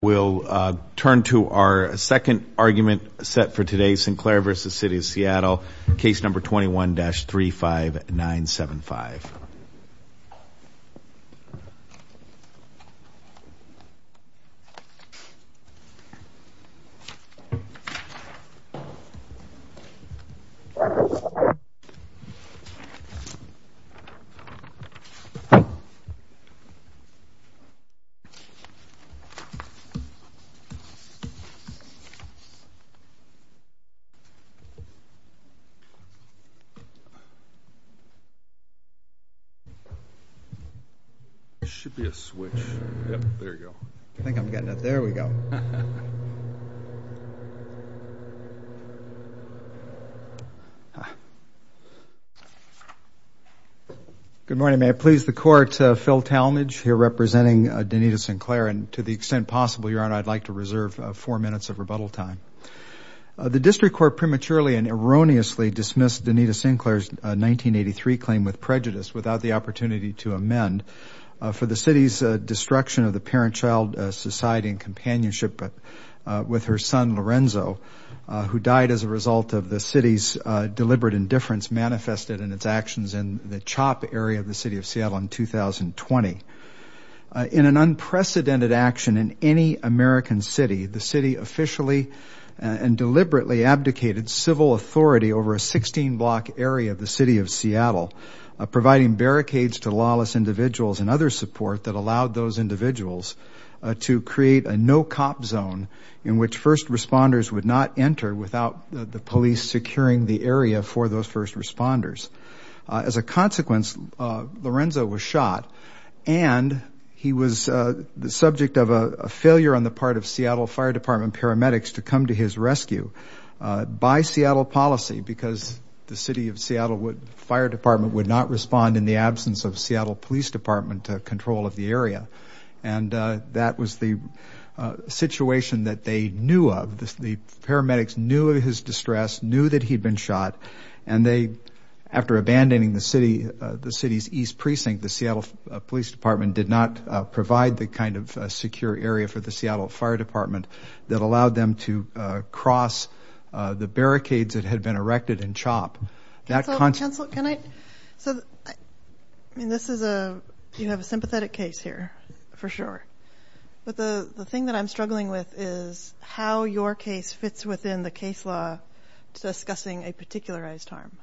We'll turn to our second argument set for today, Sinclair v. City of Seattle, case number 21-35975. Sinclair v. City of Seattle I'd like to reserve four minutes of rebuttal time. The district court prematurely and erroneously dismissed Donnitta Sinclair's 1983 claim with prejudice without the opportunity to amend for the city's destruction of the parent-child society and companionship with her son Lorenzo, who died as a result of the city's deliberate indifference manifested in its actions in the CHOP area of the City of Seattle in 2020. In an unprecedented action in any American city, the city officially and deliberately abdicated civil authority over a 16-block area of the City of Seattle, providing barricades to lawless individuals and other support that allowed those individuals to create a no-cop zone in which first responders would not enter without the police securing the area for those first responders. As a consequence, Lorenzo was shot and he was the subject of a failure on the part of Seattle Fire Department paramedics to come to his rescue by Seattle policy because the City of Seattle Fire Department would not respond in the absence of Seattle Police Department to control of the area. And that was the situation that they knew of. The paramedics knew of his distress, knew that he'd been shot, and they, after abandoning the city's East Precinct, the Seattle Police Department did not provide the kind of secure area for the Seattle Fire Department that allowed them to cross the barricades that had been erected in CHOP. So this is a, you have a sympathetic case here, for sure. But the thing that I'm struggling with is how your case fits within the case law discussing a particularized harm.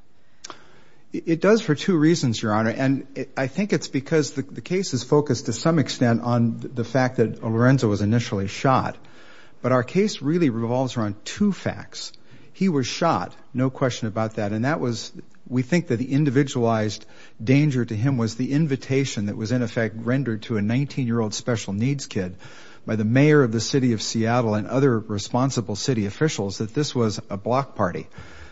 It does for two reasons, Your Honor. And I think it's because the case is focused to some extent on the fact that Lorenzo was initially shot. But our case really revolves around two facts. He was shot, no question about that. And that was, we think that the individualized danger to him was the invitation that was in effect rendered to a 19-year-old special needs kid by the mayor of the City of Seattle and other responsible city officials that this was a block party.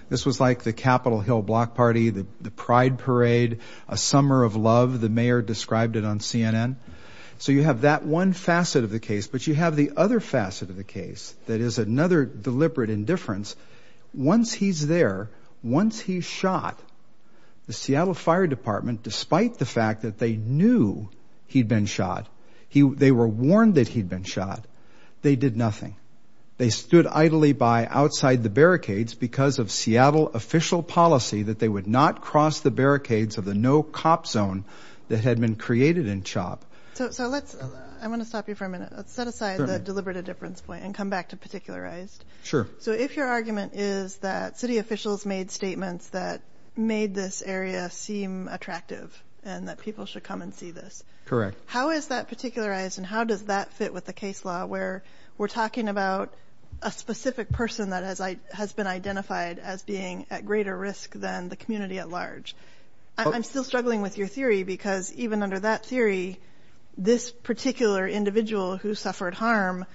This was like the Capitol Hill block party, the pride parade, a summer of love, the mayor described it on CNN. So you have that one facet of the case, but you have the other facet of the case that is another deliberate indifference. Once he's there, once he's shot, the Seattle Fire Department, despite the fact that they knew he'd been shot, they were warned that he'd been shot, they did nothing. They stood idly by outside the barricades because of Seattle official policy that they would not cross the barricades of the no-cop zone that had been created in CHOP. So let's, I want to stop you for a minute. Let's set aside the deliberate indifference point and come back to particularized. Sure. So if your argument is that city officials made statements that made this area seem attractive and that people should come and see this. Correct. How is that particularized and how does that fit with the case law where we're talking about a specific person that has been identified as being at greater risk than the community at large? I'm still struggling with your theory because even under that theory, this particular individual who suffered harm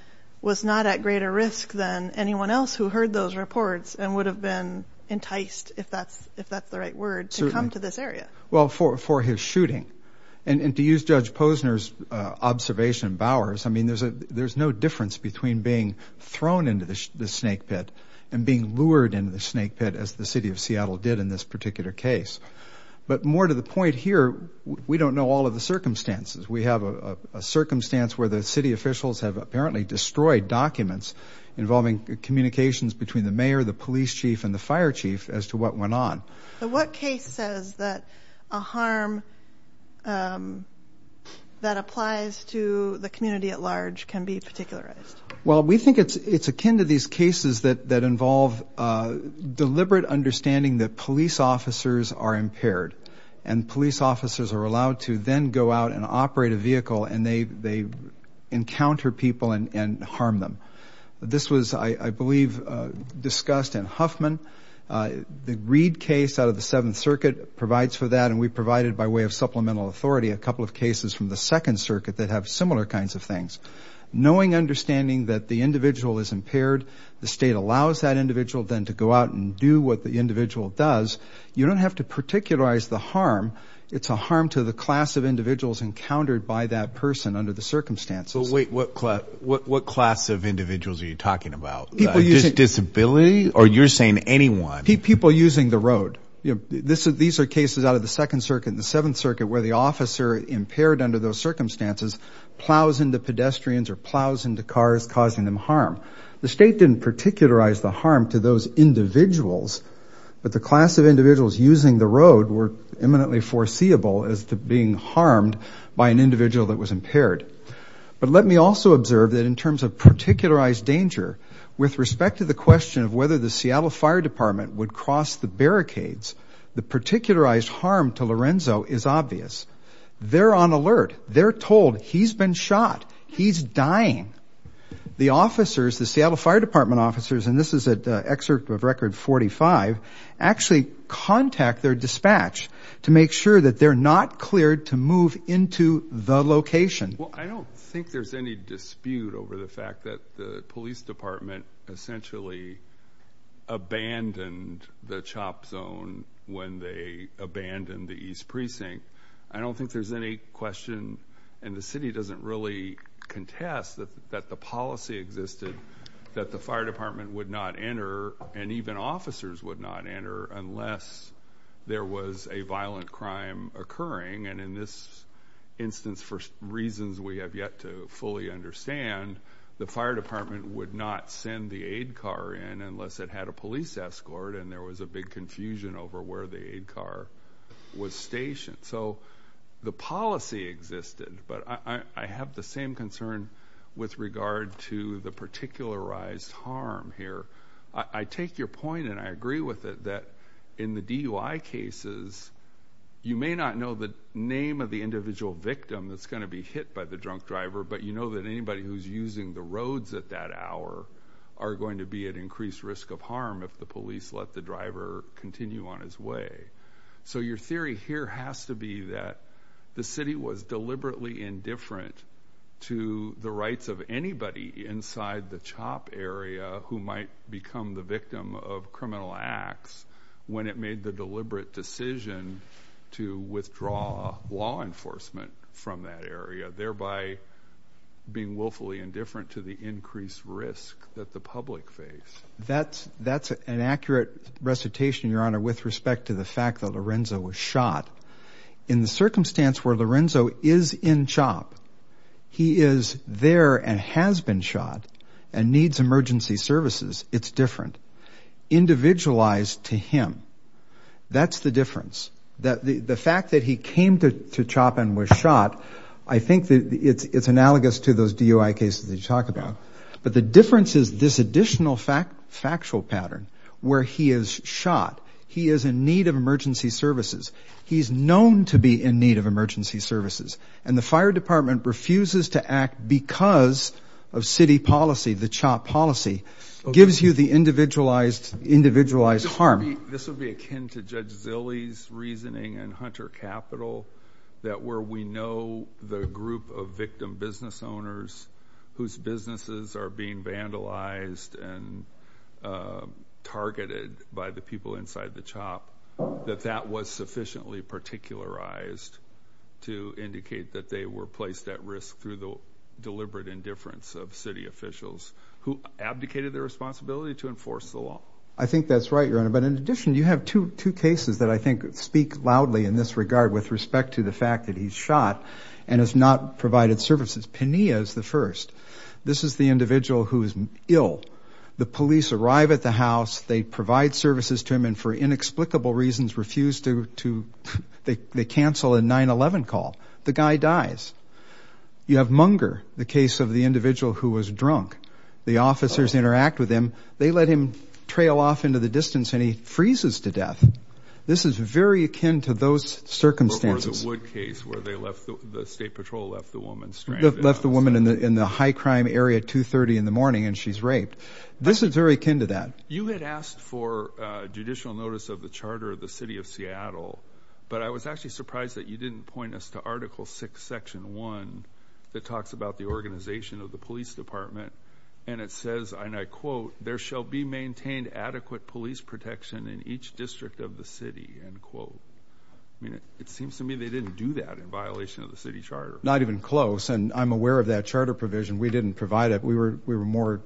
was not at greater risk than anyone else who heard those reports and would have been enticed, if that's the right word, to come to this area. Well, for his shooting. And to use Judge Posner's observation, Bowers, I mean there's no difference between being thrown into the snake pit and being lured into the snake pit as the city of Seattle did in this particular case. But more to the point here, we don't know all of the circumstances. We have a circumstance where the city officials have apparently destroyed documents involving communications between the mayor, the police chief, and the fire chief as to what went on. What case says that a harm that applies to the community at large can be particularized? Well, we think it's akin to these cases that involve deliberate understanding that police officers are impaired and police officers are allowed to then go out and operate a vehicle and they encounter people and harm them. This was, I believe, discussed in Huffman. The Reed case out of the Seventh Circuit provides for that, and we provided by way of supplemental authority a couple of cases from the Second Circuit that have similar kinds of things. Knowing understanding that the individual is impaired, the state allows that individual then to go out and do what the individual does. You don't have to particularize the harm. It's a harm to the class of individuals encountered by that person under the circumstances. But wait, what class of individuals are you talking about? Just disability or you're saying anyone? People using the road. These are cases out of the Second Circuit and the Seventh Circuit where the officer impaired under those circumstances plows into pedestrians or plows into cars causing them harm. The state didn't particularize the harm to those individuals, but the class of individuals using the road were imminently foreseeable as to being harmed by an individual that was impaired. But let me also observe that in terms of particularized danger, with respect to the question of whether the Seattle Fire Department would cross the barricades, the particularized harm to Lorenzo is obvious. They're on alert. They're told he's been shot. He's dying. The officers, the Seattle Fire Department officers, and this is an excerpt of Record 45, actually contact their dispatch to make sure that they're not cleared to move into the location. Well, I don't think there's any dispute over the fact that the police department essentially abandoned the CHOP zone when they abandoned the East Precinct. I don't think there's any question, and the city doesn't really contest that the policy existed that the fire department would not enter and even officers would not enter unless there was a violent crime occurring. And in this instance, for reasons we have yet to fully understand, the fire department would not send the aid car in unless it had a police escort and there was a big confusion over where the aid car was stationed. So the policy existed, but I have the same concern with regard to the particularized harm here. I take your point, and I agree with it, that in the DUI cases, you may not know the name of the individual victim that's going to be hit by the drunk driver, but you know that anybody who's using the roads at that hour are going to be at increased risk of harm if the police let the driver continue on his way. So your theory here has to be that the city was deliberately indifferent to the rights of anybody inside the CHOP area who might become the victim of criminal acts when it made the deliberate decision to withdraw law enforcement from that area, thereby being willfully indifferent to the increased risk that the public faced. That's an accurate recitation, Your Honor, with respect to the fact that Lorenzo was shot. In the circumstance where Lorenzo is in CHOP, he is there and has been shot and needs emergency services, it's different. Individualized to him, that's the difference. The fact that he came to CHOP and was shot, I think it's analogous to those DUI cases that you talk about. But the difference is this additional factual pattern where he is shot, he is in need of emergency services. He's known to be in need of emergency services, and the fire department refuses to act because of city policy, the CHOP policy, gives you the individualized harm. This would be akin to Judge Zilley's reasoning in Hunter Capital that where we know the group of victim business owners whose businesses are being vandalized and targeted by the people inside the CHOP, that that was sufficiently particularized to indicate that they were placed at risk through the deliberate indifference of city officials who abdicated their responsibility to enforce the law. I think that's right, Your Honor. But in addition, you have two cases that I think speak loudly in this regard with respect to the fact that he's shot and has not provided services. Penea is the first. This is the individual who is ill. The police arrive at the house, they provide services to him, and for inexplicable reasons refuse to cancel a 9-11 call. The guy dies. You have Munger, the case of the individual who was drunk. The officers interact with him. They let him trail off into the distance, and he freezes to death. This is very akin to those circumstances. Or the Wood case where the state patrol left the woman stranded. Left the woman in the high-crime area at 2.30 in the morning, and she's raped. This is very akin to that. You had asked for judicial notice of the charter of the city of Seattle, but I was actually surprised that you didn't point us to Article VI, Section 1, that talks about the organization of the police department, and it says, and I quote, there shall be maintained adequate police protection in each district of the city, end quote. I mean, it seems to me they didn't do that in violation of the city charter. Not even close, and I'm aware of that charter provision. We didn't provide it. We were more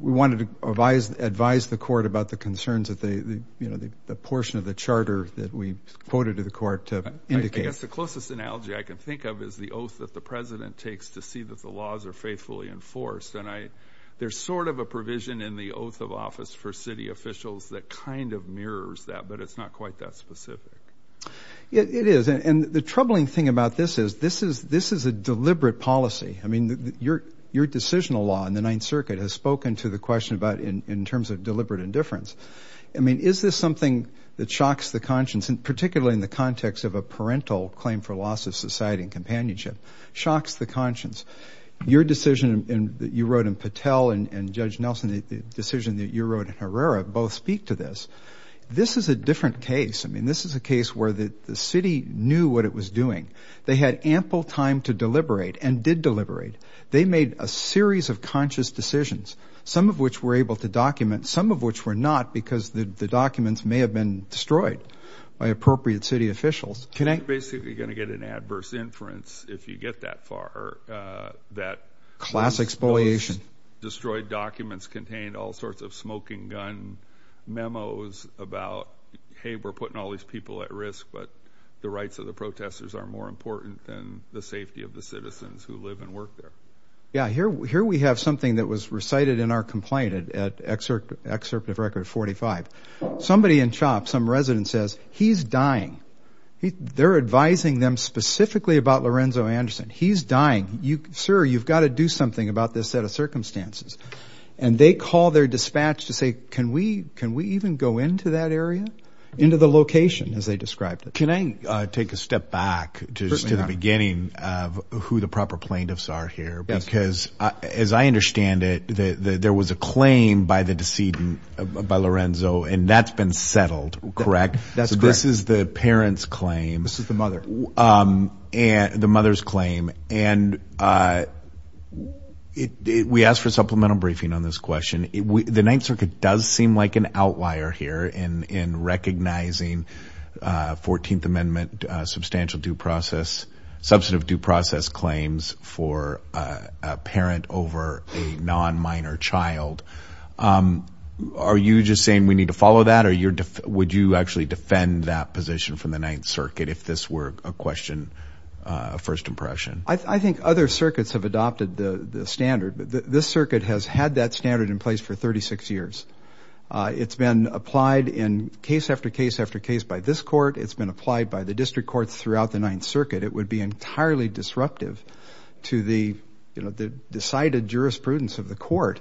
we wanted to advise the court about the concerns that the portion of the charter that we quoted to the court to indicate. I guess the closest analogy I can think of is the oath that the president takes to see that the laws are faithfully enforced, and there's sort of a provision in the oath of office for city officials that kind of mirrors that, but it's not quite that specific. It is, and the troubling thing about this is this is a deliberate policy. I mean, your decisional law in the Ninth Circuit has spoken to the question about in terms of deliberate indifference. I mean, is this something that shocks the conscience, particularly in the context of a parental claim for loss of society and companionship, shocks the conscience. Your decision that you wrote in Patel and Judge Nelson, the decision that you wrote in Herrera, both speak to this. This is a different case. I mean, this is a case where the city knew what it was doing. They had ample time to deliberate and did deliberate. They made a series of conscious decisions, some of which were able to document, some of which were not because the documents may have been destroyed by appropriate city officials. You're basically going to get an adverse inference if you get that far. Class exploitation. Destroyed documents contained all sorts of smoking gun memos about, hey, we're putting all these people at risk, but the rights of the protesters are more important than the safety of the citizens who live and work there. Yeah, here we have something that was recited in our complaint, Excerpt of Record 45. Somebody in CHOP, some resident says, he's dying. They're advising them specifically about Lorenzo Anderson. He's dying. Sir, you've got to do something about this set of circumstances. And they call their dispatch to say, can we even go into that area, into the location as they described it? Can I take a step back to the beginning of who the proper plaintiffs are here? Because as I understand it, there was a claim by the decedent, by Lorenzo, and that's been settled, correct? That's correct. So this is the parent's claim. This is the mother. The mother's claim. And we asked for a supplemental briefing on this question. The Ninth Circuit does seem like an outlier here in recognizing 14th Amendment substantial due process, substantive due process claims for a parent over a non-minor child. Are you just saying we need to follow that, or would you actually defend that position from the Ninth Circuit if this were a question of first impression? I think other circuits have adopted the standard. This circuit has had that standard in place for 36 years. It's been applied in case after case after case by this court. It's been applied by the district courts throughout the Ninth Circuit. It would be entirely disruptive to the, you know, the decided jurisprudence of the court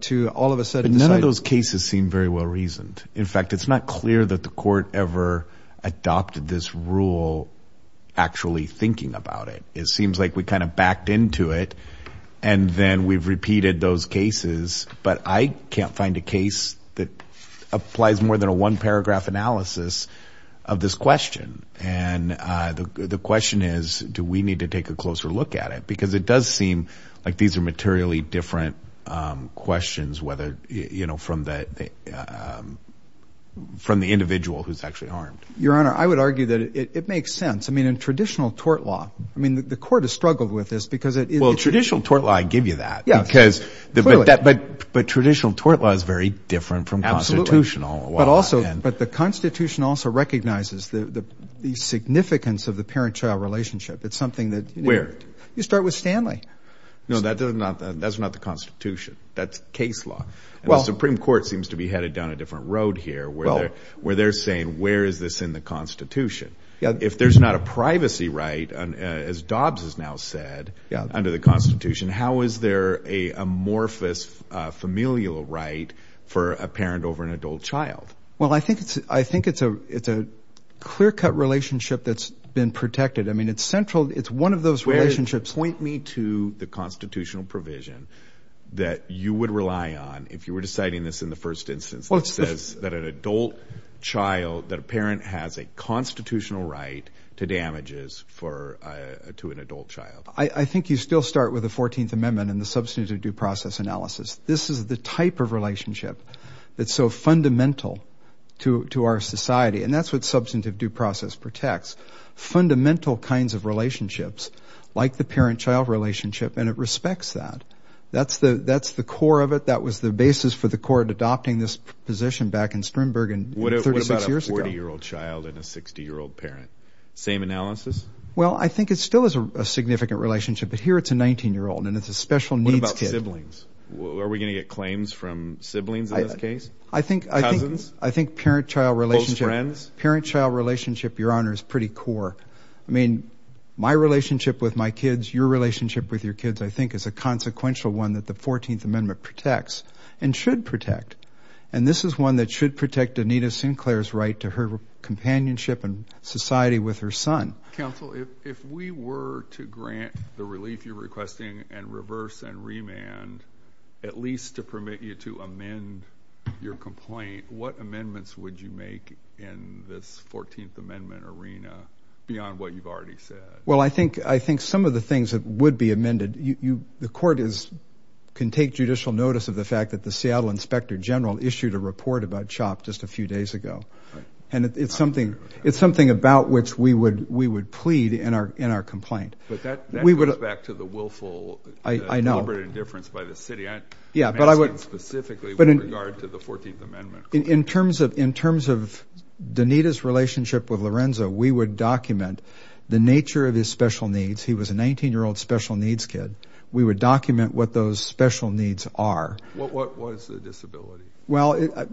to all of a sudden decide. But none of those cases seem very well reasoned. In fact, it's not clear that the court ever adopted this rule actually thinking about it. It seems like we kind of backed into it, and then we've repeated those cases. But I can't find a case that applies more than a one-paragraph analysis of this question. And the question is, do we need to take a closer look at it? Because it does seem like these are materially different questions, whether, you know, from the individual who's actually harmed. Your Honor, I would argue that it makes sense. I mean, in traditional tort law, I mean, the court has struggled with this. Well, traditional tort law, I give you that. But traditional tort law is very different from constitutional. But the Constitution also recognizes the significance of the parent-child relationship. Where? You start with Stanley. No, that's not the Constitution. That's case law. The Supreme Court seems to be headed down a different road here where they're saying, where is this in the Constitution? If there's not a privacy right, as Dobbs has now said, under the Constitution, how is there an amorphous familial right for a parent over an adult child? Well, I think it's a clear-cut relationship that's been protected. I mean, it's central. It's one of those relationships. Point me to the constitutional provision that you would rely on if you were deciding this in the first instance that says that an adult child, that a parent has a constitutional right to damages to an adult child. I think you still start with the 14th Amendment and the substantive due process analysis. This is the type of relationship that's so fundamental to our society, and that's what substantive due process protects, fundamental kinds of relationships like the parent-child relationship, and it respects that. That's the core of it. That was the basis for the court adopting this position back in Strimberg 36 years ago. What about a 40-year-old child and a 60-year-old parent? Same analysis? Well, I think it still is a significant relationship, but here it's a 19-year-old and it's a special needs kid. What about siblings? Are we going to get claims from siblings in this case? Cousins? I think parent-child relationship. Close friends? Parent-child relationship, Your Honor, is pretty core. I mean, my relationship with my kids, your relationship with your kids, I think is a consequential one that the 14th Amendment protects and should protect, and this is one that should protect Anita Sinclair's right to her companionship and society with her son. Counsel, if we were to grant the relief you're requesting and reverse and remand, at least to permit you to amend your complaint, what amendments would you make in this 14th Amendment arena beyond what you've already said? Well, I think some of the things that would be amended, the court can take judicial notice of the fact that the Seattle inspector general issued a report about CHOP just a few days ago, and it's something about which we would plead in our complaint. But that goes back to the willful deliberate indifference by the city. I'm asking specifically with regard to the 14th Amendment. In terms of Danita's relationship with Lorenzo, we would document the nature of his special needs. He was a 19-year-old special needs kid. We would document what those special needs are. What was the disability? Well,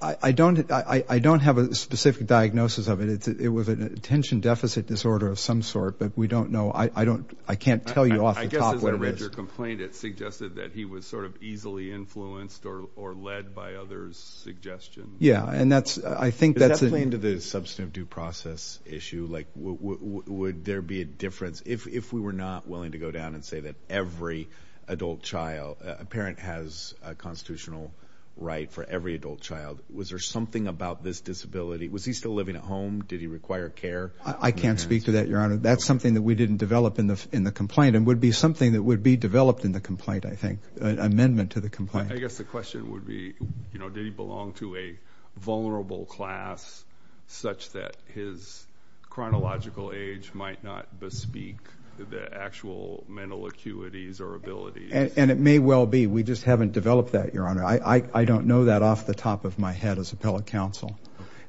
I don't have a specific diagnosis of it. It was an attention deficit disorder of some sort, but we don't know. I can't tell you off the top what it is. I guess as a registered complaint it suggested that he was sort of easily influenced or led by others' suggestions. Yeah, and I think that's a... Does that play into the substantive due process issue? Like, would there be a difference? If we were not willing to go down and say that every adult child, a parent has a constitutional right for every adult child, was there something about this disability? Was he still living at home? Did he require care? I can't speak to that, Your Honor. That's something that we didn't develop in the complaint and would be something that would be developed in the complaint, I think, an amendment to the complaint. I guess the question would be, you know, did he belong to a vulnerable class such that his chronological age might not bespeak the actual mental acuities or abilities? And it may well be. We just haven't developed that, Your Honor. I don't know that off the top of my head as appellate counsel.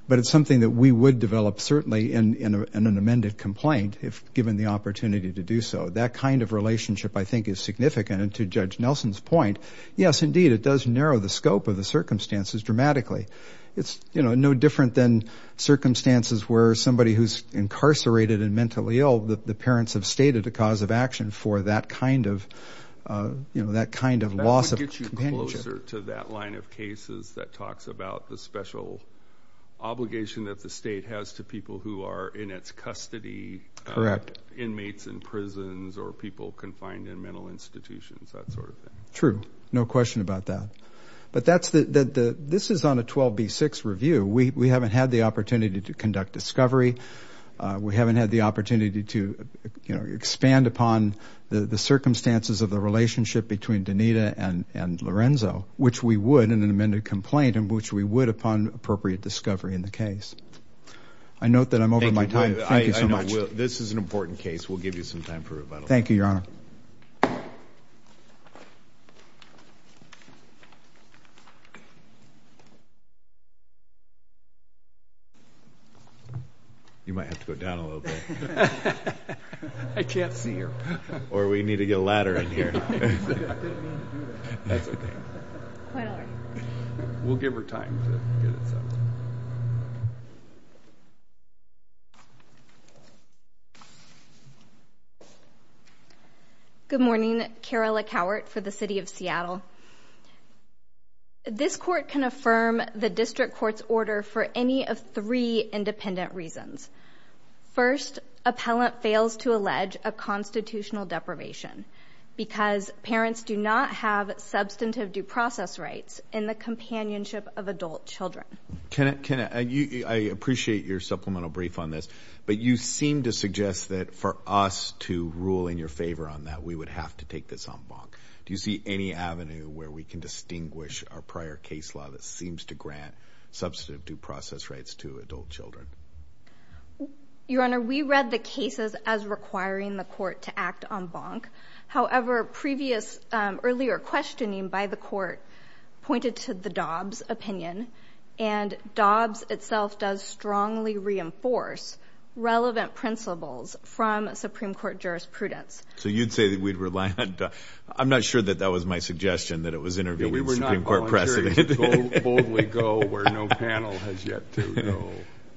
But it's something that we would develop certainly in an amended complaint if given the opportunity to do so. That kind of relationship, I think, is significant. And to Judge Nelson's point, yes, indeed, it does narrow the scope of the circumstances dramatically. It's, you know, no different than circumstances where somebody who's incarcerated and mentally ill, the parents have stated a cause of action for that kind of loss of companionship. That would get you closer to that line of cases that talks about the special obligation that the state has to people who are in its custody. Correct. Inmates in prisons or people confined in mental institutions, that sort of thing. True. No question about that. But this is on a 12B6 review. We haven't had the opportunity to conduct discovery. We haven't had the opportunity to, you know, expand upon the circumstances of the relationship between Donita and Lorenzo, which we would in an amended complaint, and which we would upon appropriate discovery in the case. I note that I'm over my time. Thank you so much. This is an important case. We'll give you some time for rebuttal. Thank you, Your Honor. You might have to go down a little bit. I can't see her. Or we need to get a ladder in here. I didn't mean to do that. That's okay. Quite all right. We'll give her time to get it settled. Good morning. Kara LeCowart for the City of Seattle. This court can affirm the district court's order for any of three independent reasons. First, appellant fails to allege a constitutional deprivation because parents do not have substantive due process rights in the companionship of adult children. Kenneth, I appreciate your supplemental brief on this, but you seem to suggest that for us to rule in your favor on that, we would have to take this en banc. Do you see any avenue where we can distinguish a prior case law that seems to grant substantive due process rights to adult children? Your Honor, we read the cases as requiring the court to act en banc. However, earlier questioning by the court pointed to the Dobbs opinion, and Dobbs itself does strongly reinforce relevant principles from Supreme Court jurisprudence. So you'd say that we'd rely on Dobbs? I'm not sure that that was my suggestion, that it was intervening in Supreme Court precedent. We were not volunteering to boldly go where no panel has yet to go.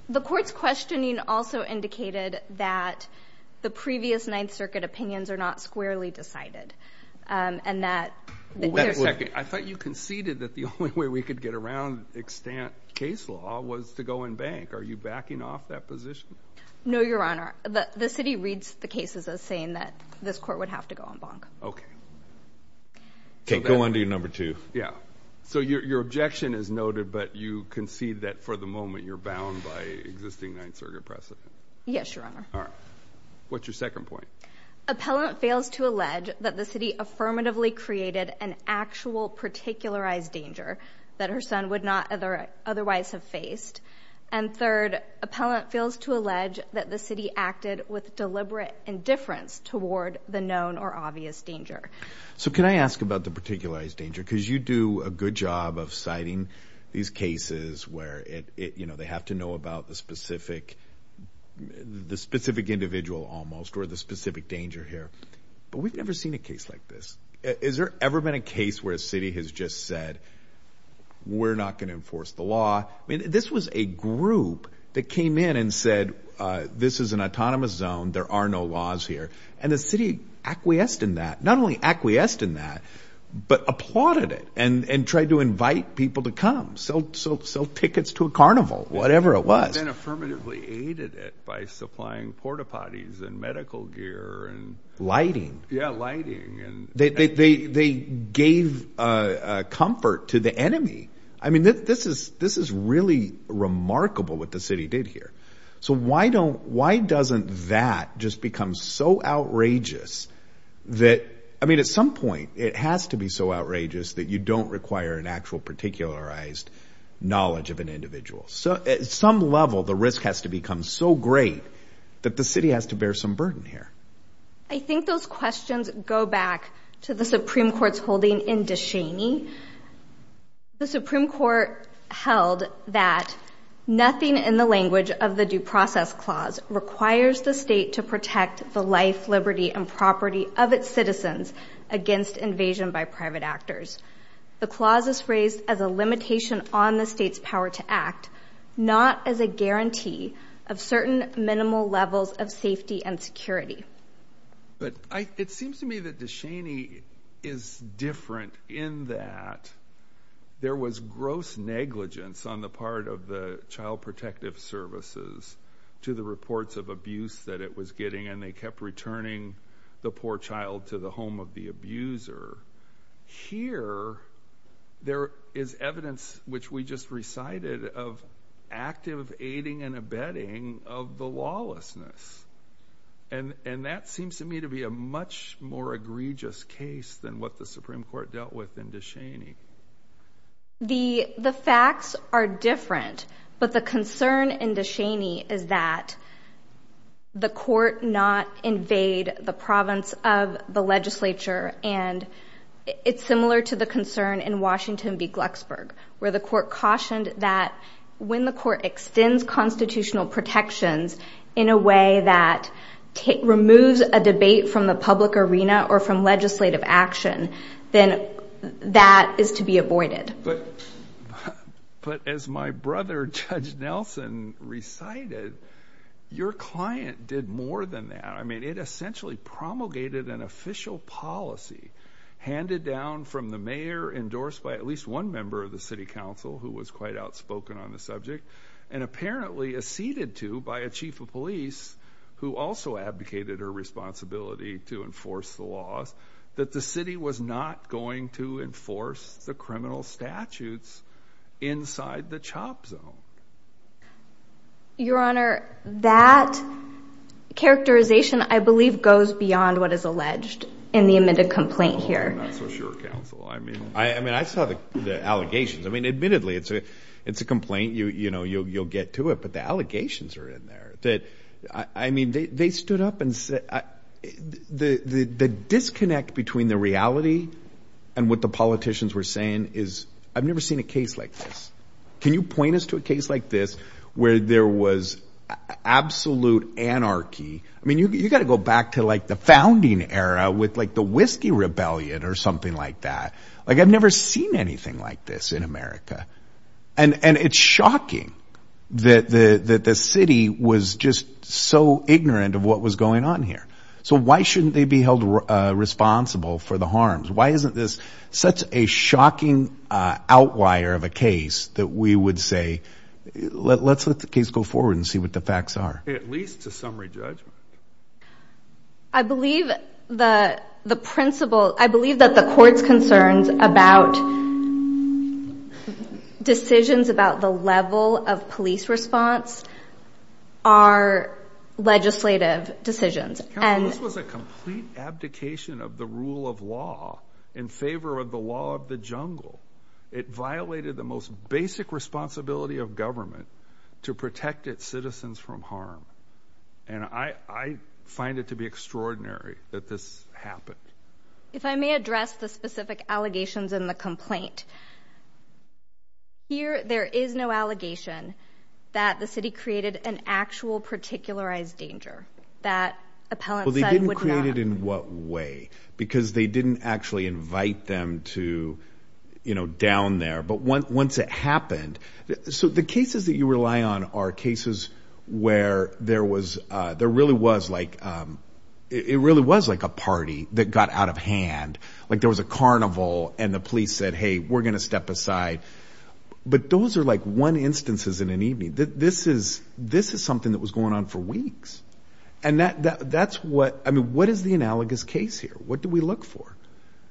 The court's questioning also indicated that the previous Ninth Circuit opinions are not squarely decided. I thought you conceded that the only way we could get around extant case law was to go en banc. Are you backing off that position? No, Your Honor. The city reads the cases as saying that this court would have to go en banc. Okay. Go on to your number two. Yeah. So your objection is noted, but you concede that for the moment you're bound by existing Ninth Circuit precedent? Yes, Your Honor. All right. What's your second point? Appellant fails to allege that the city affirmatively created an actual particularized danger that her son would not otherwise have faced. And third, appellant fails to allege that the city acted with deliberate indifference toward the known or obvious danger. So can I ask about the particularized danger? Because you do a good job of citing these cases where, you know, they have to know about the specific individual almost or the specific danger here. But we've never seen a case like this. Has there ever been a case where a city has just said, we're not going to enforce the law? I mean, this was a group that came in and said, this is an autonomous zone, there are no laws here. And the city acquiesced in that, not only acquiesced in that, but applauded it and tried to invite people to come, sell tickets to a carnival, whatever it was. And then affirmatively aided it by supplying porta-potties and medical gear. Lighting. Yeah, lighting. They gave comfort to the enemy. I mean, this is really remarkable what the city did here. So why doesn't that just become so outrageous that, I mean, at some point it has to be so outrageous that you don't require an actual particularized knowledge of an individual. So at some level the risk has to become so great that the city has to bear some burden here. I think those questions go back to the Supreme Court's holding in Deshaney. The Supreme Court held that nothing in the language of the Due Process Clause requires the state to protect the life, liberty, and property of its citizens against invasion by private actors. The clause is phrased as a limitation on the state's power to act, not as a guarantee of certain minimal levels of safety and security. But it seems to me that Deshaney is different in that there was gross negligence on the part of the Child Protective Services to the reports of abuse that it was getting, and they kept returning the poor child to the home of the abuser. Here there is evidence, which we just recited, of active aiding and abetting of the lawlessness. And that seems to me to be a much more egregious case than what the Supreme Court dealt with in Deshaney. The facts are different, but the concern in Deshaney is that the court not the province of the legislature, and it's similar to the concern in Washington v. Glucksburg, where the court cautioned that when the court extends constitutional protections in a way that removes a debate from the public arena or from legislative action, then that is to be avoided. But as my brother, Judge Nelson, recited, your client did more than that. I mean, it essentially promulgated an official policy handed down from the mayor, endorsed by at least one member of the city council, who was quite outspoken on the subject, and apparently acceded to by a chief of police who also advocated her responsibility to enforce the laws, that the city was not going to enforce the criminal statutes inside the CHOP zone. Your Honor, that characterization, I believe, goes beyond what is alleged in the amended complaint here. I'm not so sure, counsel. I mean, I saw the allegations. I mean, admittedly, it's a complaint. You know, you'll get to it, but the allegations are in there. I mean, they stood up and said, the disconnect between the reality and what the politicians were saying is, I've never seen a case like this. Can you point us to a case like this where there was absolute anarchy? I mean, you've got to go back to, like, the founding era with, like, the Whiskey Rebellion or something like that. Like, I've never seen anything like this in America. And it's shocking that the city was just so ignorant of what was going on here. So why shouldn't they be held responsible for the harms? Why isn't this such a shocking outlier of a case that we would say, let's let the case go forward and see what the facts are? At least to summary judgment. I believe the principle, I believe that the court's concerns about decisions about the level of police response are legislative decisions. This was a complete abdication of the rule of law in favor of the law of the jungle. It violated the most basic responsibility of government to protect its citizens from harm. And I find it to be extraordinary that this happened. If I may address the specific allegations in the complaint. Here, there is no allegation that the city created an actual particularized procedure that appellate. They didn't create it in what way? Because they didn't actually invite them to, you know, down there, but once it happened, so the cases that you rely on are cases where there was a, there really was like, it really was like a party that got out of hand. Like there was a carnival and the police said, Hey, we're going to step aside. But those are like one instances in an evening that this is, this is something that was going on for weeks. And that, that that's what, I mean, what is the analogous case here? What do we look for?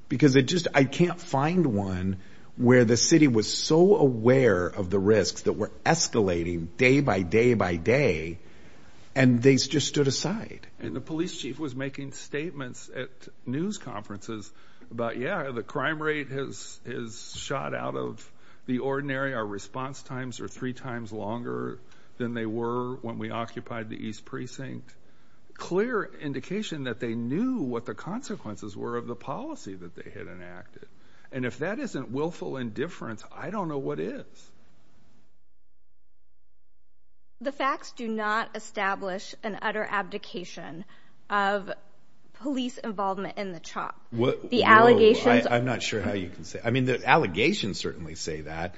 Because it just, I can't find one where the city was so aware of the risks that were escalating day by day by day. And they just stood aside. And the police chief was making statements at news conferences about, yeah, the crime rate has his shot out of the ordinary. Our response times are three times longer than they were when we occupied the East precinct. Clear indication that they knew what the consequences were of the policy that they had enacted. And if that isn't willful indifference, I don't know what is. The facts do not establish an utter abdication of police involvement in the chop. The allegations, I'm not sure how you can say, I mean, the allegations certainly say that.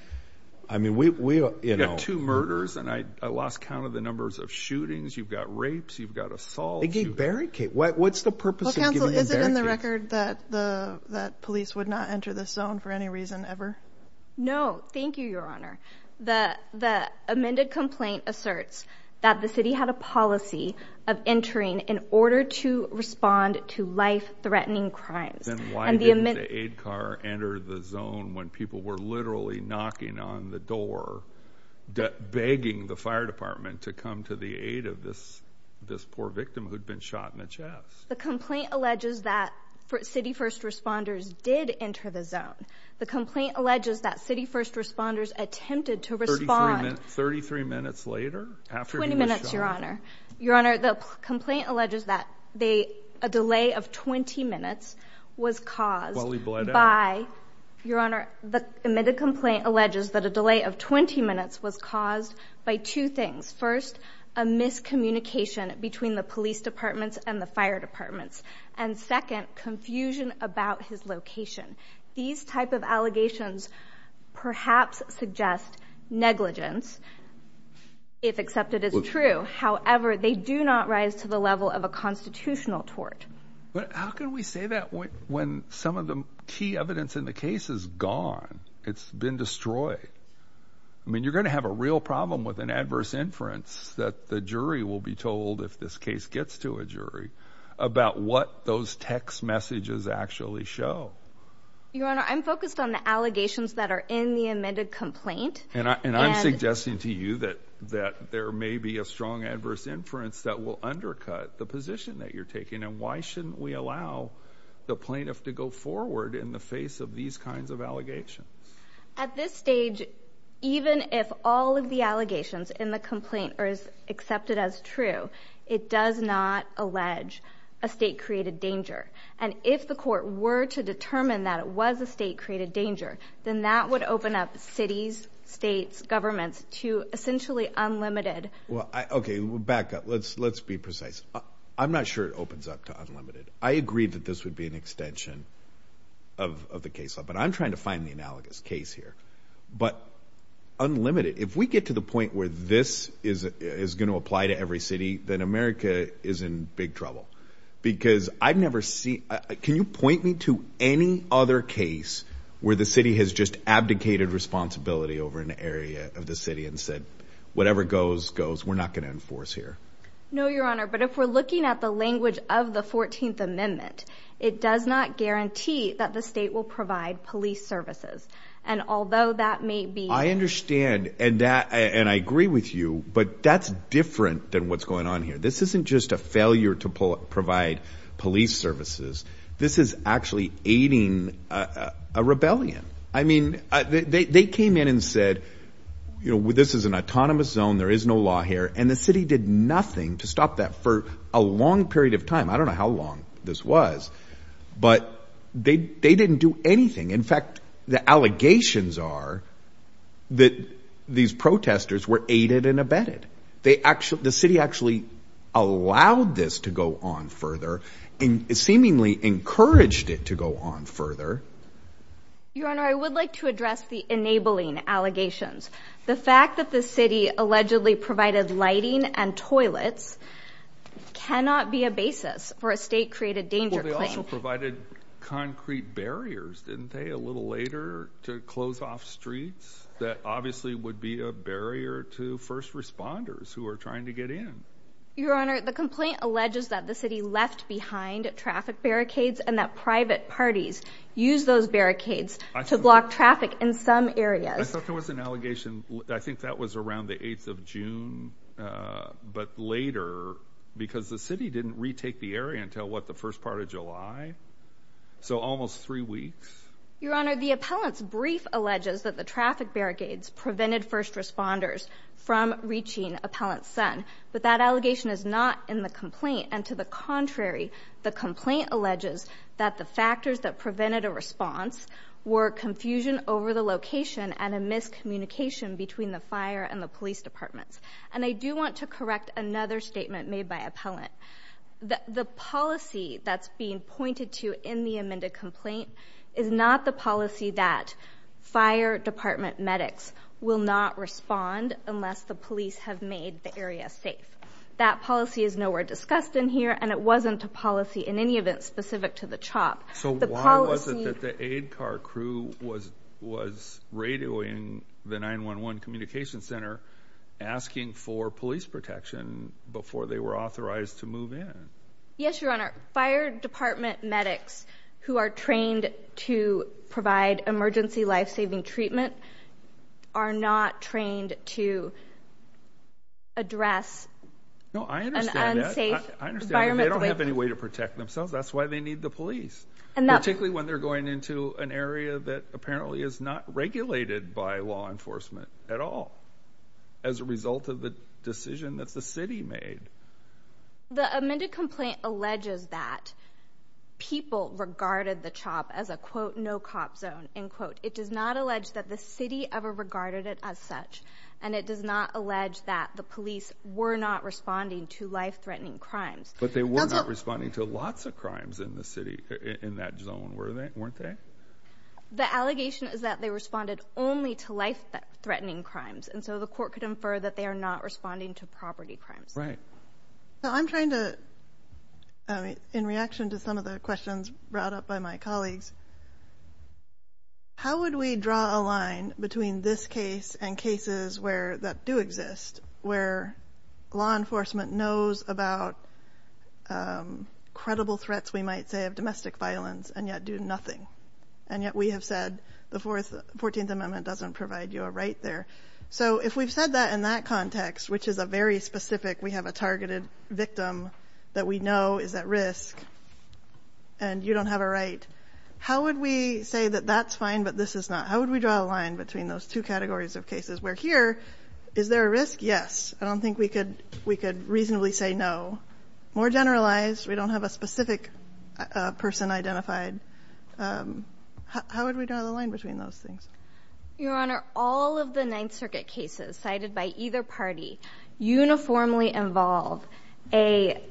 I mean, we, we, you know, two murders and I lost count of the numbers of shootings. You've got rapes, you've got assault. They gave barricade. What's the purpose of giving them barricade? Is it in the record that the, that police would not enter this zone for any reason ever? No, thank you, your honor. The, the amended complaint asserts that the city had a policy of entering in order to respond to life threatening crimes. Then why didn't the aid car enter the zone when people were literally knocking on the door, begging the fire department to come to the aid of this, this poor victim who'd been shot in the chest. The complaint alleges that city first responders did enter the zone. The complaint alleges that city first responders attempted to respond. 33 minutes later, after 20 minutes, your honor, your honor, the complaint alleges that they, a delay of 20 minutes was caused by your honor. The admitted complaint alleges that a delay of 20 minutes was caused by two things. First, a miscommunication between the police departments and the fire departments. And second confusion about his location. These type of allegations perhaps suggest negligence if accepted as true. However, they do not rise to the level of a constitutional tort. But how can we say that when some of the key evidence in the case is gone, it's been destroyed. I mean, you're going to have a real problem with an adverse inference that the jury will be told if this case gets to a jury about what those text messages actually show. Your honor, I'm focused on the allegations that are in the amended complaint. And I'm suggesting to you that there may be a strong adverse inference that will undercut the position that you're taking. And why shouldn't we allow the plaintiff to go forward in the face of these kinds of allegations? At this stage, even if all of the allegations in the complaint are accepted as true, it does not allege a state created danger. And if the court were to determine that it was a state created danger, then that would open up cities, states, governments to essentially unlimited. Well, okay, we'll back up. Let's, let's be precise. I'm not sure it opens up to unlimited. I agreed that this would be an extension of, of the case. But I'm trying to find the analogous case here, but unlimited. If we get to the point where this is, is going to apply to every city, then America is in big trouble because I've never seen, can you point me to any other case where the city has just abdicated responsibility over an area of the city and said, whatever goes goes, we're not going to enforce here. No, your honor. But if we're looking at the language of the 14th amendment, it does not guarantee that the state will provide police services. And although that may be, I understand. And that, and I agree with you, but that's different than what's going on here. This isn't just a failure to pull up, provide police services. This is actually aiding a rebellion. I mean, they came in and said, you know, this is an autonomous zone. There is no law here. And the city did nothing to stop that for a long period of time. I don't know how long this was, but they, they didn't do anything. In fact, the allegations are that these protesters were aided and abetted. They actually, the city actually allowed this to go on further and seemingly encouraged it to go on further. Your honor. I would like to address the enabling allegations. The fact that the city allegedly provided lighting and toilets cannot be a basis for a state created danger. They also provided concrete barriers, didn't they? A little later to close off streets that obviously would be a barrier to first responders who are trying to get in. Your honor. The complaint alleges that the city left behind traffic barricades and that private parties use those barricades to block traffic in some areas. There was an allegation. I think that was around the eighth of June, but later because the city didn't retake the area until what? The first part of July. So almost three weeks. Your honor. The appellant's brief alleges that the traffic barricades prevented first responders from reaching appellant's son, but that allegation is not in the complaint. And to the contrary, the complaint alleges that the factors that prevented a response were confusion over the location and a miscommunication between the fire and the police departments. And I do want to correct another statement made by appellant. The policy that's being pointed to in the amended complaint is not the police have made the area safe. That policy is nowhere discussed in here. And it wasn't a policy in any event specific to the chop. So why was it that the aid car crew was, was radioing the nine one one communication center asking for police protection before they were authorized to move in? Yes. Your honor fire department medics who are trained to provide emergency life-saving treatment are not trained to address. No, I understand. I understand. They don't have any way to protect themselves. That's why they need the police. And that particularly when they're going into an area that apparently is not regulated by law enforcement at all, as a result of the decision that's the city made. The amended complaint alleges that people regarded the chop as a quote, no cop zone. In quote, it does not allege that the city ever regarded it as such. And it does not allege that the police were not responding to life threatening crimes, but they were not responding to lots of crimes in the city in that zone where they weren't there. The allegation is that they responded only to life threatening crimes. And so the court could infer that they are not responding to property crimes. Right. So I'm trying to, in reaction to some of the questions brought up by my colleagues, how would we draw a line between this case and cases where that do exist where law enforcement knows about credible threats? We might say of domestic violence and yet do nothing. And yet we have said the fourth 14th amendment doesn't provide you a right there. So if we've said that in that context, which is a very specific, we have a targeted victim that we know is at risk and you don't have a right. How would we say that that's fine? But this is not, how would we draw a line between those two categories of cases where here is there a risk? Yes. I don't think we could, we could reasonably say no more generalized. We don't have a specific person identified. Um, how would we draw the line between those things? Your honor, all of the ninth circuit cases cited by either party uniformly involve a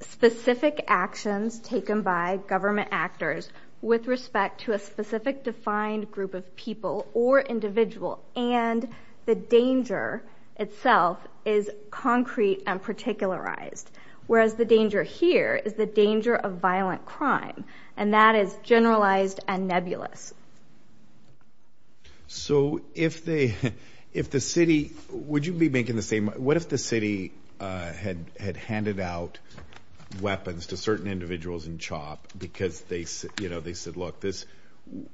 specific actions taken by government actors with respect to a specific defined group of people or individual. And the danger itself is concrete and particularized. Whereas the danger here is the danger of violent crime. And that is generalized and nebulous. So if they, if the city, would you be making the same? What if the city, uh, had, had handed out weapons to certain individuals in chop because they, you know, they said, look, this,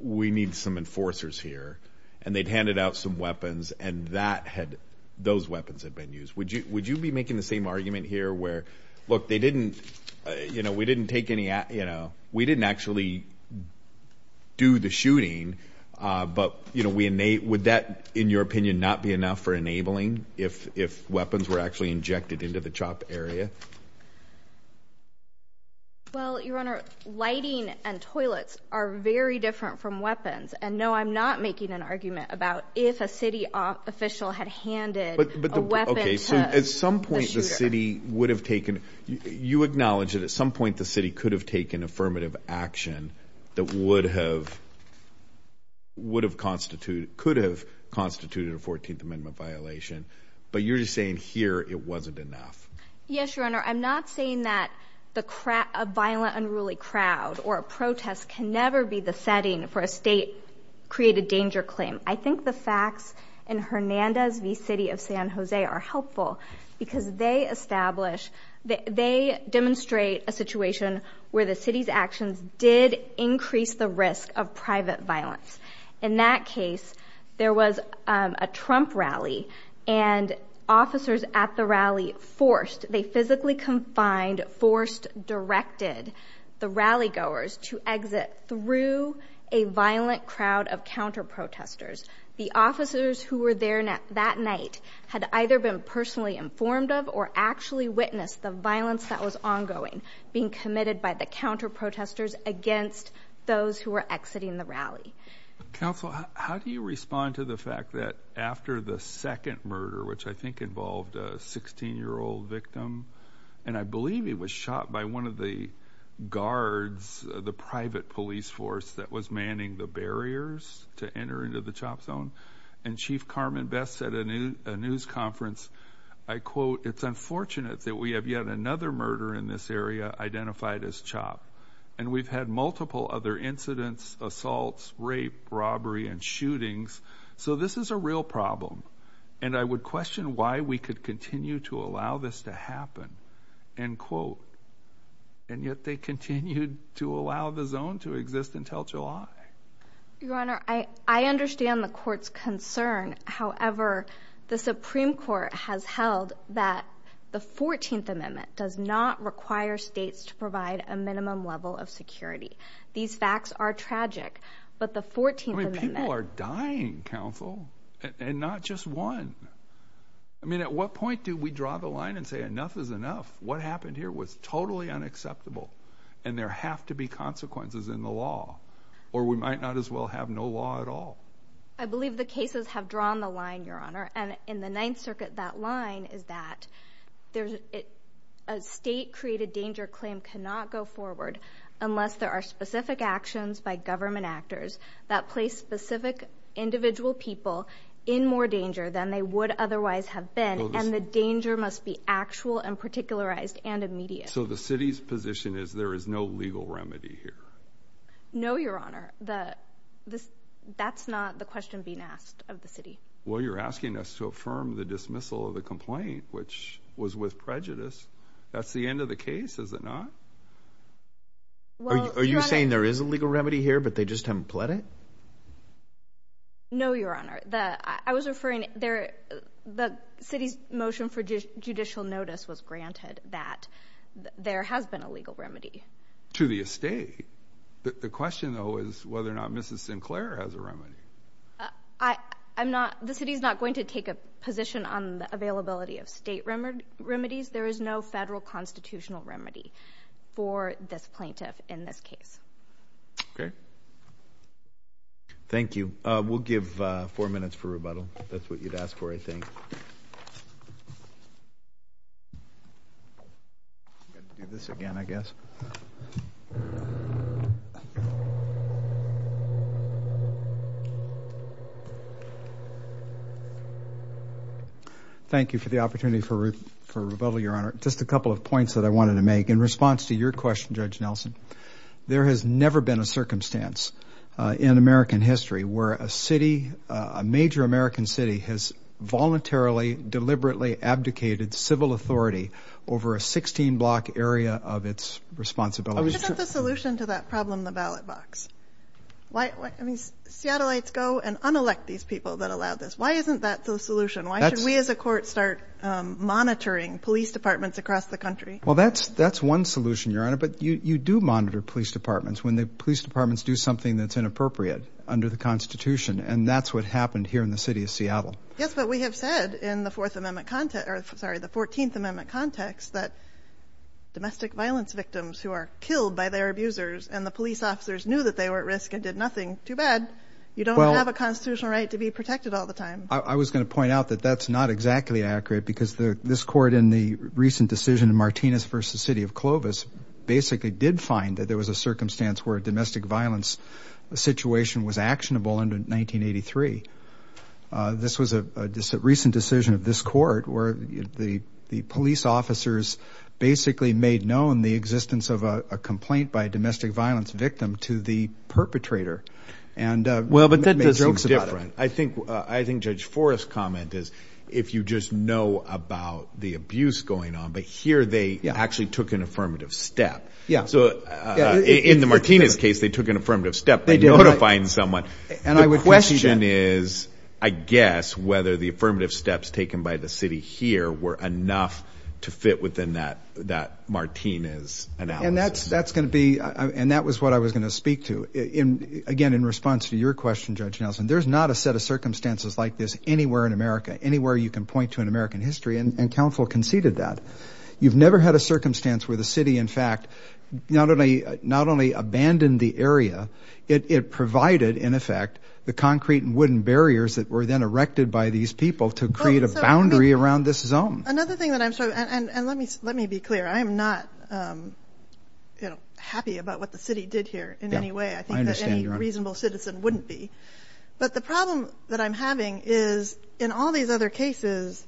we need some enforcers here and they'd handed out some weapons and that had, those weapons had been used. Would you, would you be making the same argument here where, look, they didn't, you know, we didn't take any, you know, we didn't actually do the shooting. Uh, but you know, we innate, would that in your opinion, not be enough for enabling if, if weapons were actually injected into the chop area? Well, your honor, lighting and toilets are very different from weapons. And no, I'm not making an argument about if a city official had handed a weapon. So at some point the city would have taken, you acknowledge that at some point the city could have taken affirmative action that would have, would have constituted, could have constituted a 14th amendment violation, but you're just saying here, it wasn't enough. Yes. Your honor. I'm not saying that the crap, a violent unruly crowd or a protest can never be the setting for a state created danger claim. I think the facts in Hernandez V city of San Jose are helpful because they establish that they demonstrate a situation where the city's actions did increase the risk of private violence. In that case, there was, um, a Trump rally and officers at the rally forced, they physically confined, forced, directed the rally goers to exit through a violent crowd of counter protesters. The officers who were there that night had either been personally informed of or actually witnessed the violence that was ongoing, being committed by the counter protesters against those who were exiting the rally. Counsel, how do you respond to the fact that after the second murder, which I think involved a 16 year old victim, and I believe he was shot by one of the guards, the private police force that was manning the barriers to enter into the chop zone. And chief Carmen best said a new, a news conference, I quote, it's unfortunate that we have yet another murder in this area identified as chop. And we've had multiple other incidents, assaults, rape, robbery, and shootings. So this is a real problem. And I would question why we could continue to allow this to happen and quote, and yet they continued to allow the zone to exist until July. Your Honor, I, I understand the court's concern. However, the Supreme court has held that the 14th amendment does not require states to provide a minimum level of security. These facts are tragic, but the 14th, I mean, people are dying council and not just one. I mean, at what point do we draw the line and say enough is enough? What happened here was totally unacceptable and there have to be consequences in the law, or we might not as well have no law at all. I believe the cases have drawn the line, Your Honor. And in the ninth circuit, that line is that there's a state created danger. Claim cannot go forward unless there are specific actions by government actors that place specific individual people in more danger than they would otherwise have been. And the danger must be actual and particularized and immediate. So the city's position is there is no legal remedy here. No, Your Honor, the, that's not the question being asked of the city. Well, you're asking us to affirm the dismissal of the complaint, which was with prejudice. That's the end of the case. Is it not? Are you saying there is a legal remedy here, but they just haven't pled it? No, Your Honor. The, I was referring there. The city's motion for judicial notice was granted that there has been a legal remedy to the estate. The question, though, is whether or not Mrs. Sinclair has a remedy. I, I'm not, the city is not going to take a position on the availability of state remedies. There is no federal constitutional remedy for this plaintiff in this case. Okay. Thank you. We'll give four minutes for rebuttal. That's what you'd ask for, I think. I'm going to do this again, I guess. Thank you for the opportunity for rebuttal, Your Honor. Just a couple of points that I wanted to make. In response to your question, Judge Nelson, there has never been a circumstance in American history where a city, has voluntarily, deliberately abdicated civil authority over a 16 block area of its responsibility. What's the solution to that problem in the ballot box? Why, I mean, Seattleites go and unelect these people that allowed this. Why isn't that the solution? Why should we as a court start monitoring police departments across the country? Well, that's, that's one solution, Your Honor, but you do monitor police departments when the police departments do something that's inappropriate under the constitution. And that's what happened here in the city of Seattle. Yes, but we have said in the fourth amendment content, or sorry, the 14th amendment context that domestic violence victims who are killed by their abusers and the police officers knew that they were at risk and did nothing too bad. You don't have a constitutional right to be protected all the time. I was going to point out that that's not exactly accurate because the, this court in the recent decision in Martinez versus city of Clovis basically did find that there was a circumstance where domestic violence, the situation was actionable in 1983. This was a recent decision of this court where the, the police officers basically made known the existence of a complaint by domestic violence victim to the perpetrator. And, well, but that makes it different. I think, I think judge forest comment is if you just know about the abuse going on, but here they actually took an affirmative step. Yeah. So in the Martinez case, they took an affirmative step to find someone. And I would question is, I guess whether the affirmative steps taken by the city here were enough to fit within that, that Martinez and that's, that's going to be. And that was what I was going to speak to in, again, in response to your question, judge Nelson, there's not a set of circumstances like this anywhere in America, anywhere you can point to an American history and council conceded that you've never had a circumstance where the city, in fact, not only, not only abandoned the area, it provided in effect, the concrete and wooden barriers that were then erected by these people to create a boundary around this zone. Another thing that I'm sure. And let me, let me be clear. I am not happy about what the city did here in any way. I think that any reasonable citizen wouldn't be, but the problem that I'm having is in all these other cases,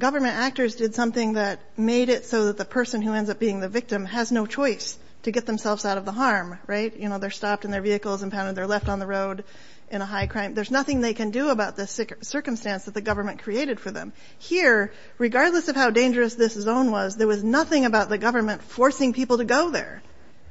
government actors did something that made it so that the person who ends up being the victim has no choice to get themselves out of the harm, right? You know, they're stopped in their vehicles and pounded. They're left on the road in a high crime. There's nothing they can do about this sick circumstance that the government created for them here, regardless of how dangerous this zone was, there was nothing about the government forcing people to go there.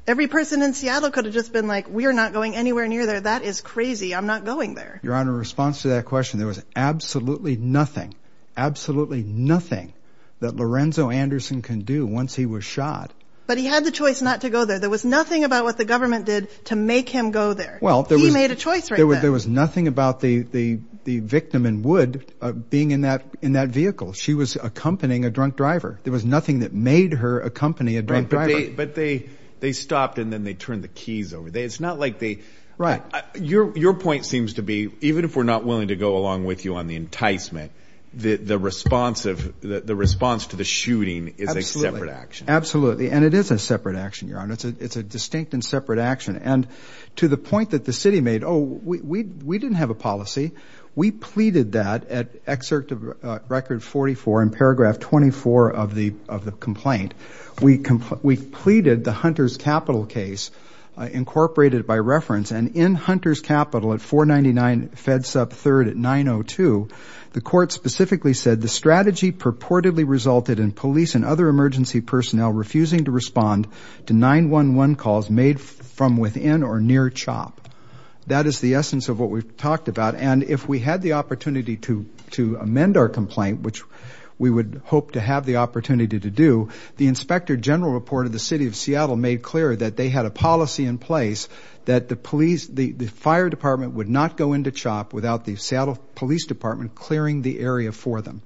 Every person in Seattle could have just been like, we are not going anywhere near there. That is crazy. I'm not going there. You're on a response to that question. There was absolutely nothing, absolutely nothing that Lorenzo Anderson can do. Once he was shot, but he had the choice not to go there. There was nothing about what the government did to make him go there. Well, he made a choice. There was nothing about the, the, the victim and would being in that, in that vehicle. She was accompanying a drunk driver. There was nothing that made her accompany a drunk driver, but they, they stopped and then they turned the keys over there. It's not like they, right. Your, your point seems to be, even if we're not willing to go along with you on the enticement, the, the responsive, the, the response to the shooting is a separate action. Absolutely. And it is a separate action. You're on. It's a, it's a distinct and separate action. And to the point that the city made, Oh, we, we, we didn't have a policy. We pleaded that at excerpt of record 44 in paragraph 24 of the, of the complaint. We complained, we pleaded the Hunter's capital case incorporated by reference and in Hunter's capital at four 99 feds up third at nine Oh two. The court specifically said the strategy purportedly resulted in police and other emergency personnel, refusing to respond to nine one, one calls made from within or near chop. That is the essence of what we've talked about. And if we had the opportunity to, to amend our complaint, which we would hope to have the opportunity to do, the inspector general reported the city of Seattle made clear that they had a policy in place that the police, the fire department would not go into chop without the Seattle police department, clearing the area for them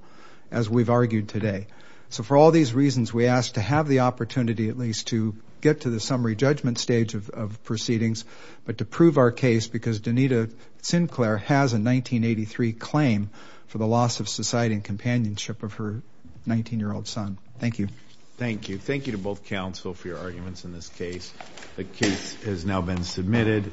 as we've argued today. So for all these reasons, we asked to have the opportunity at least to get to the summary judgment stage of, of proceedings, but to prove our case because Danita Sinclair has a 1983 claim for the loss of society and companionship of her 19 year old son. Thank you. Thank you. Thank you to both counsel for your arguments. In this case, the case has now been submitted.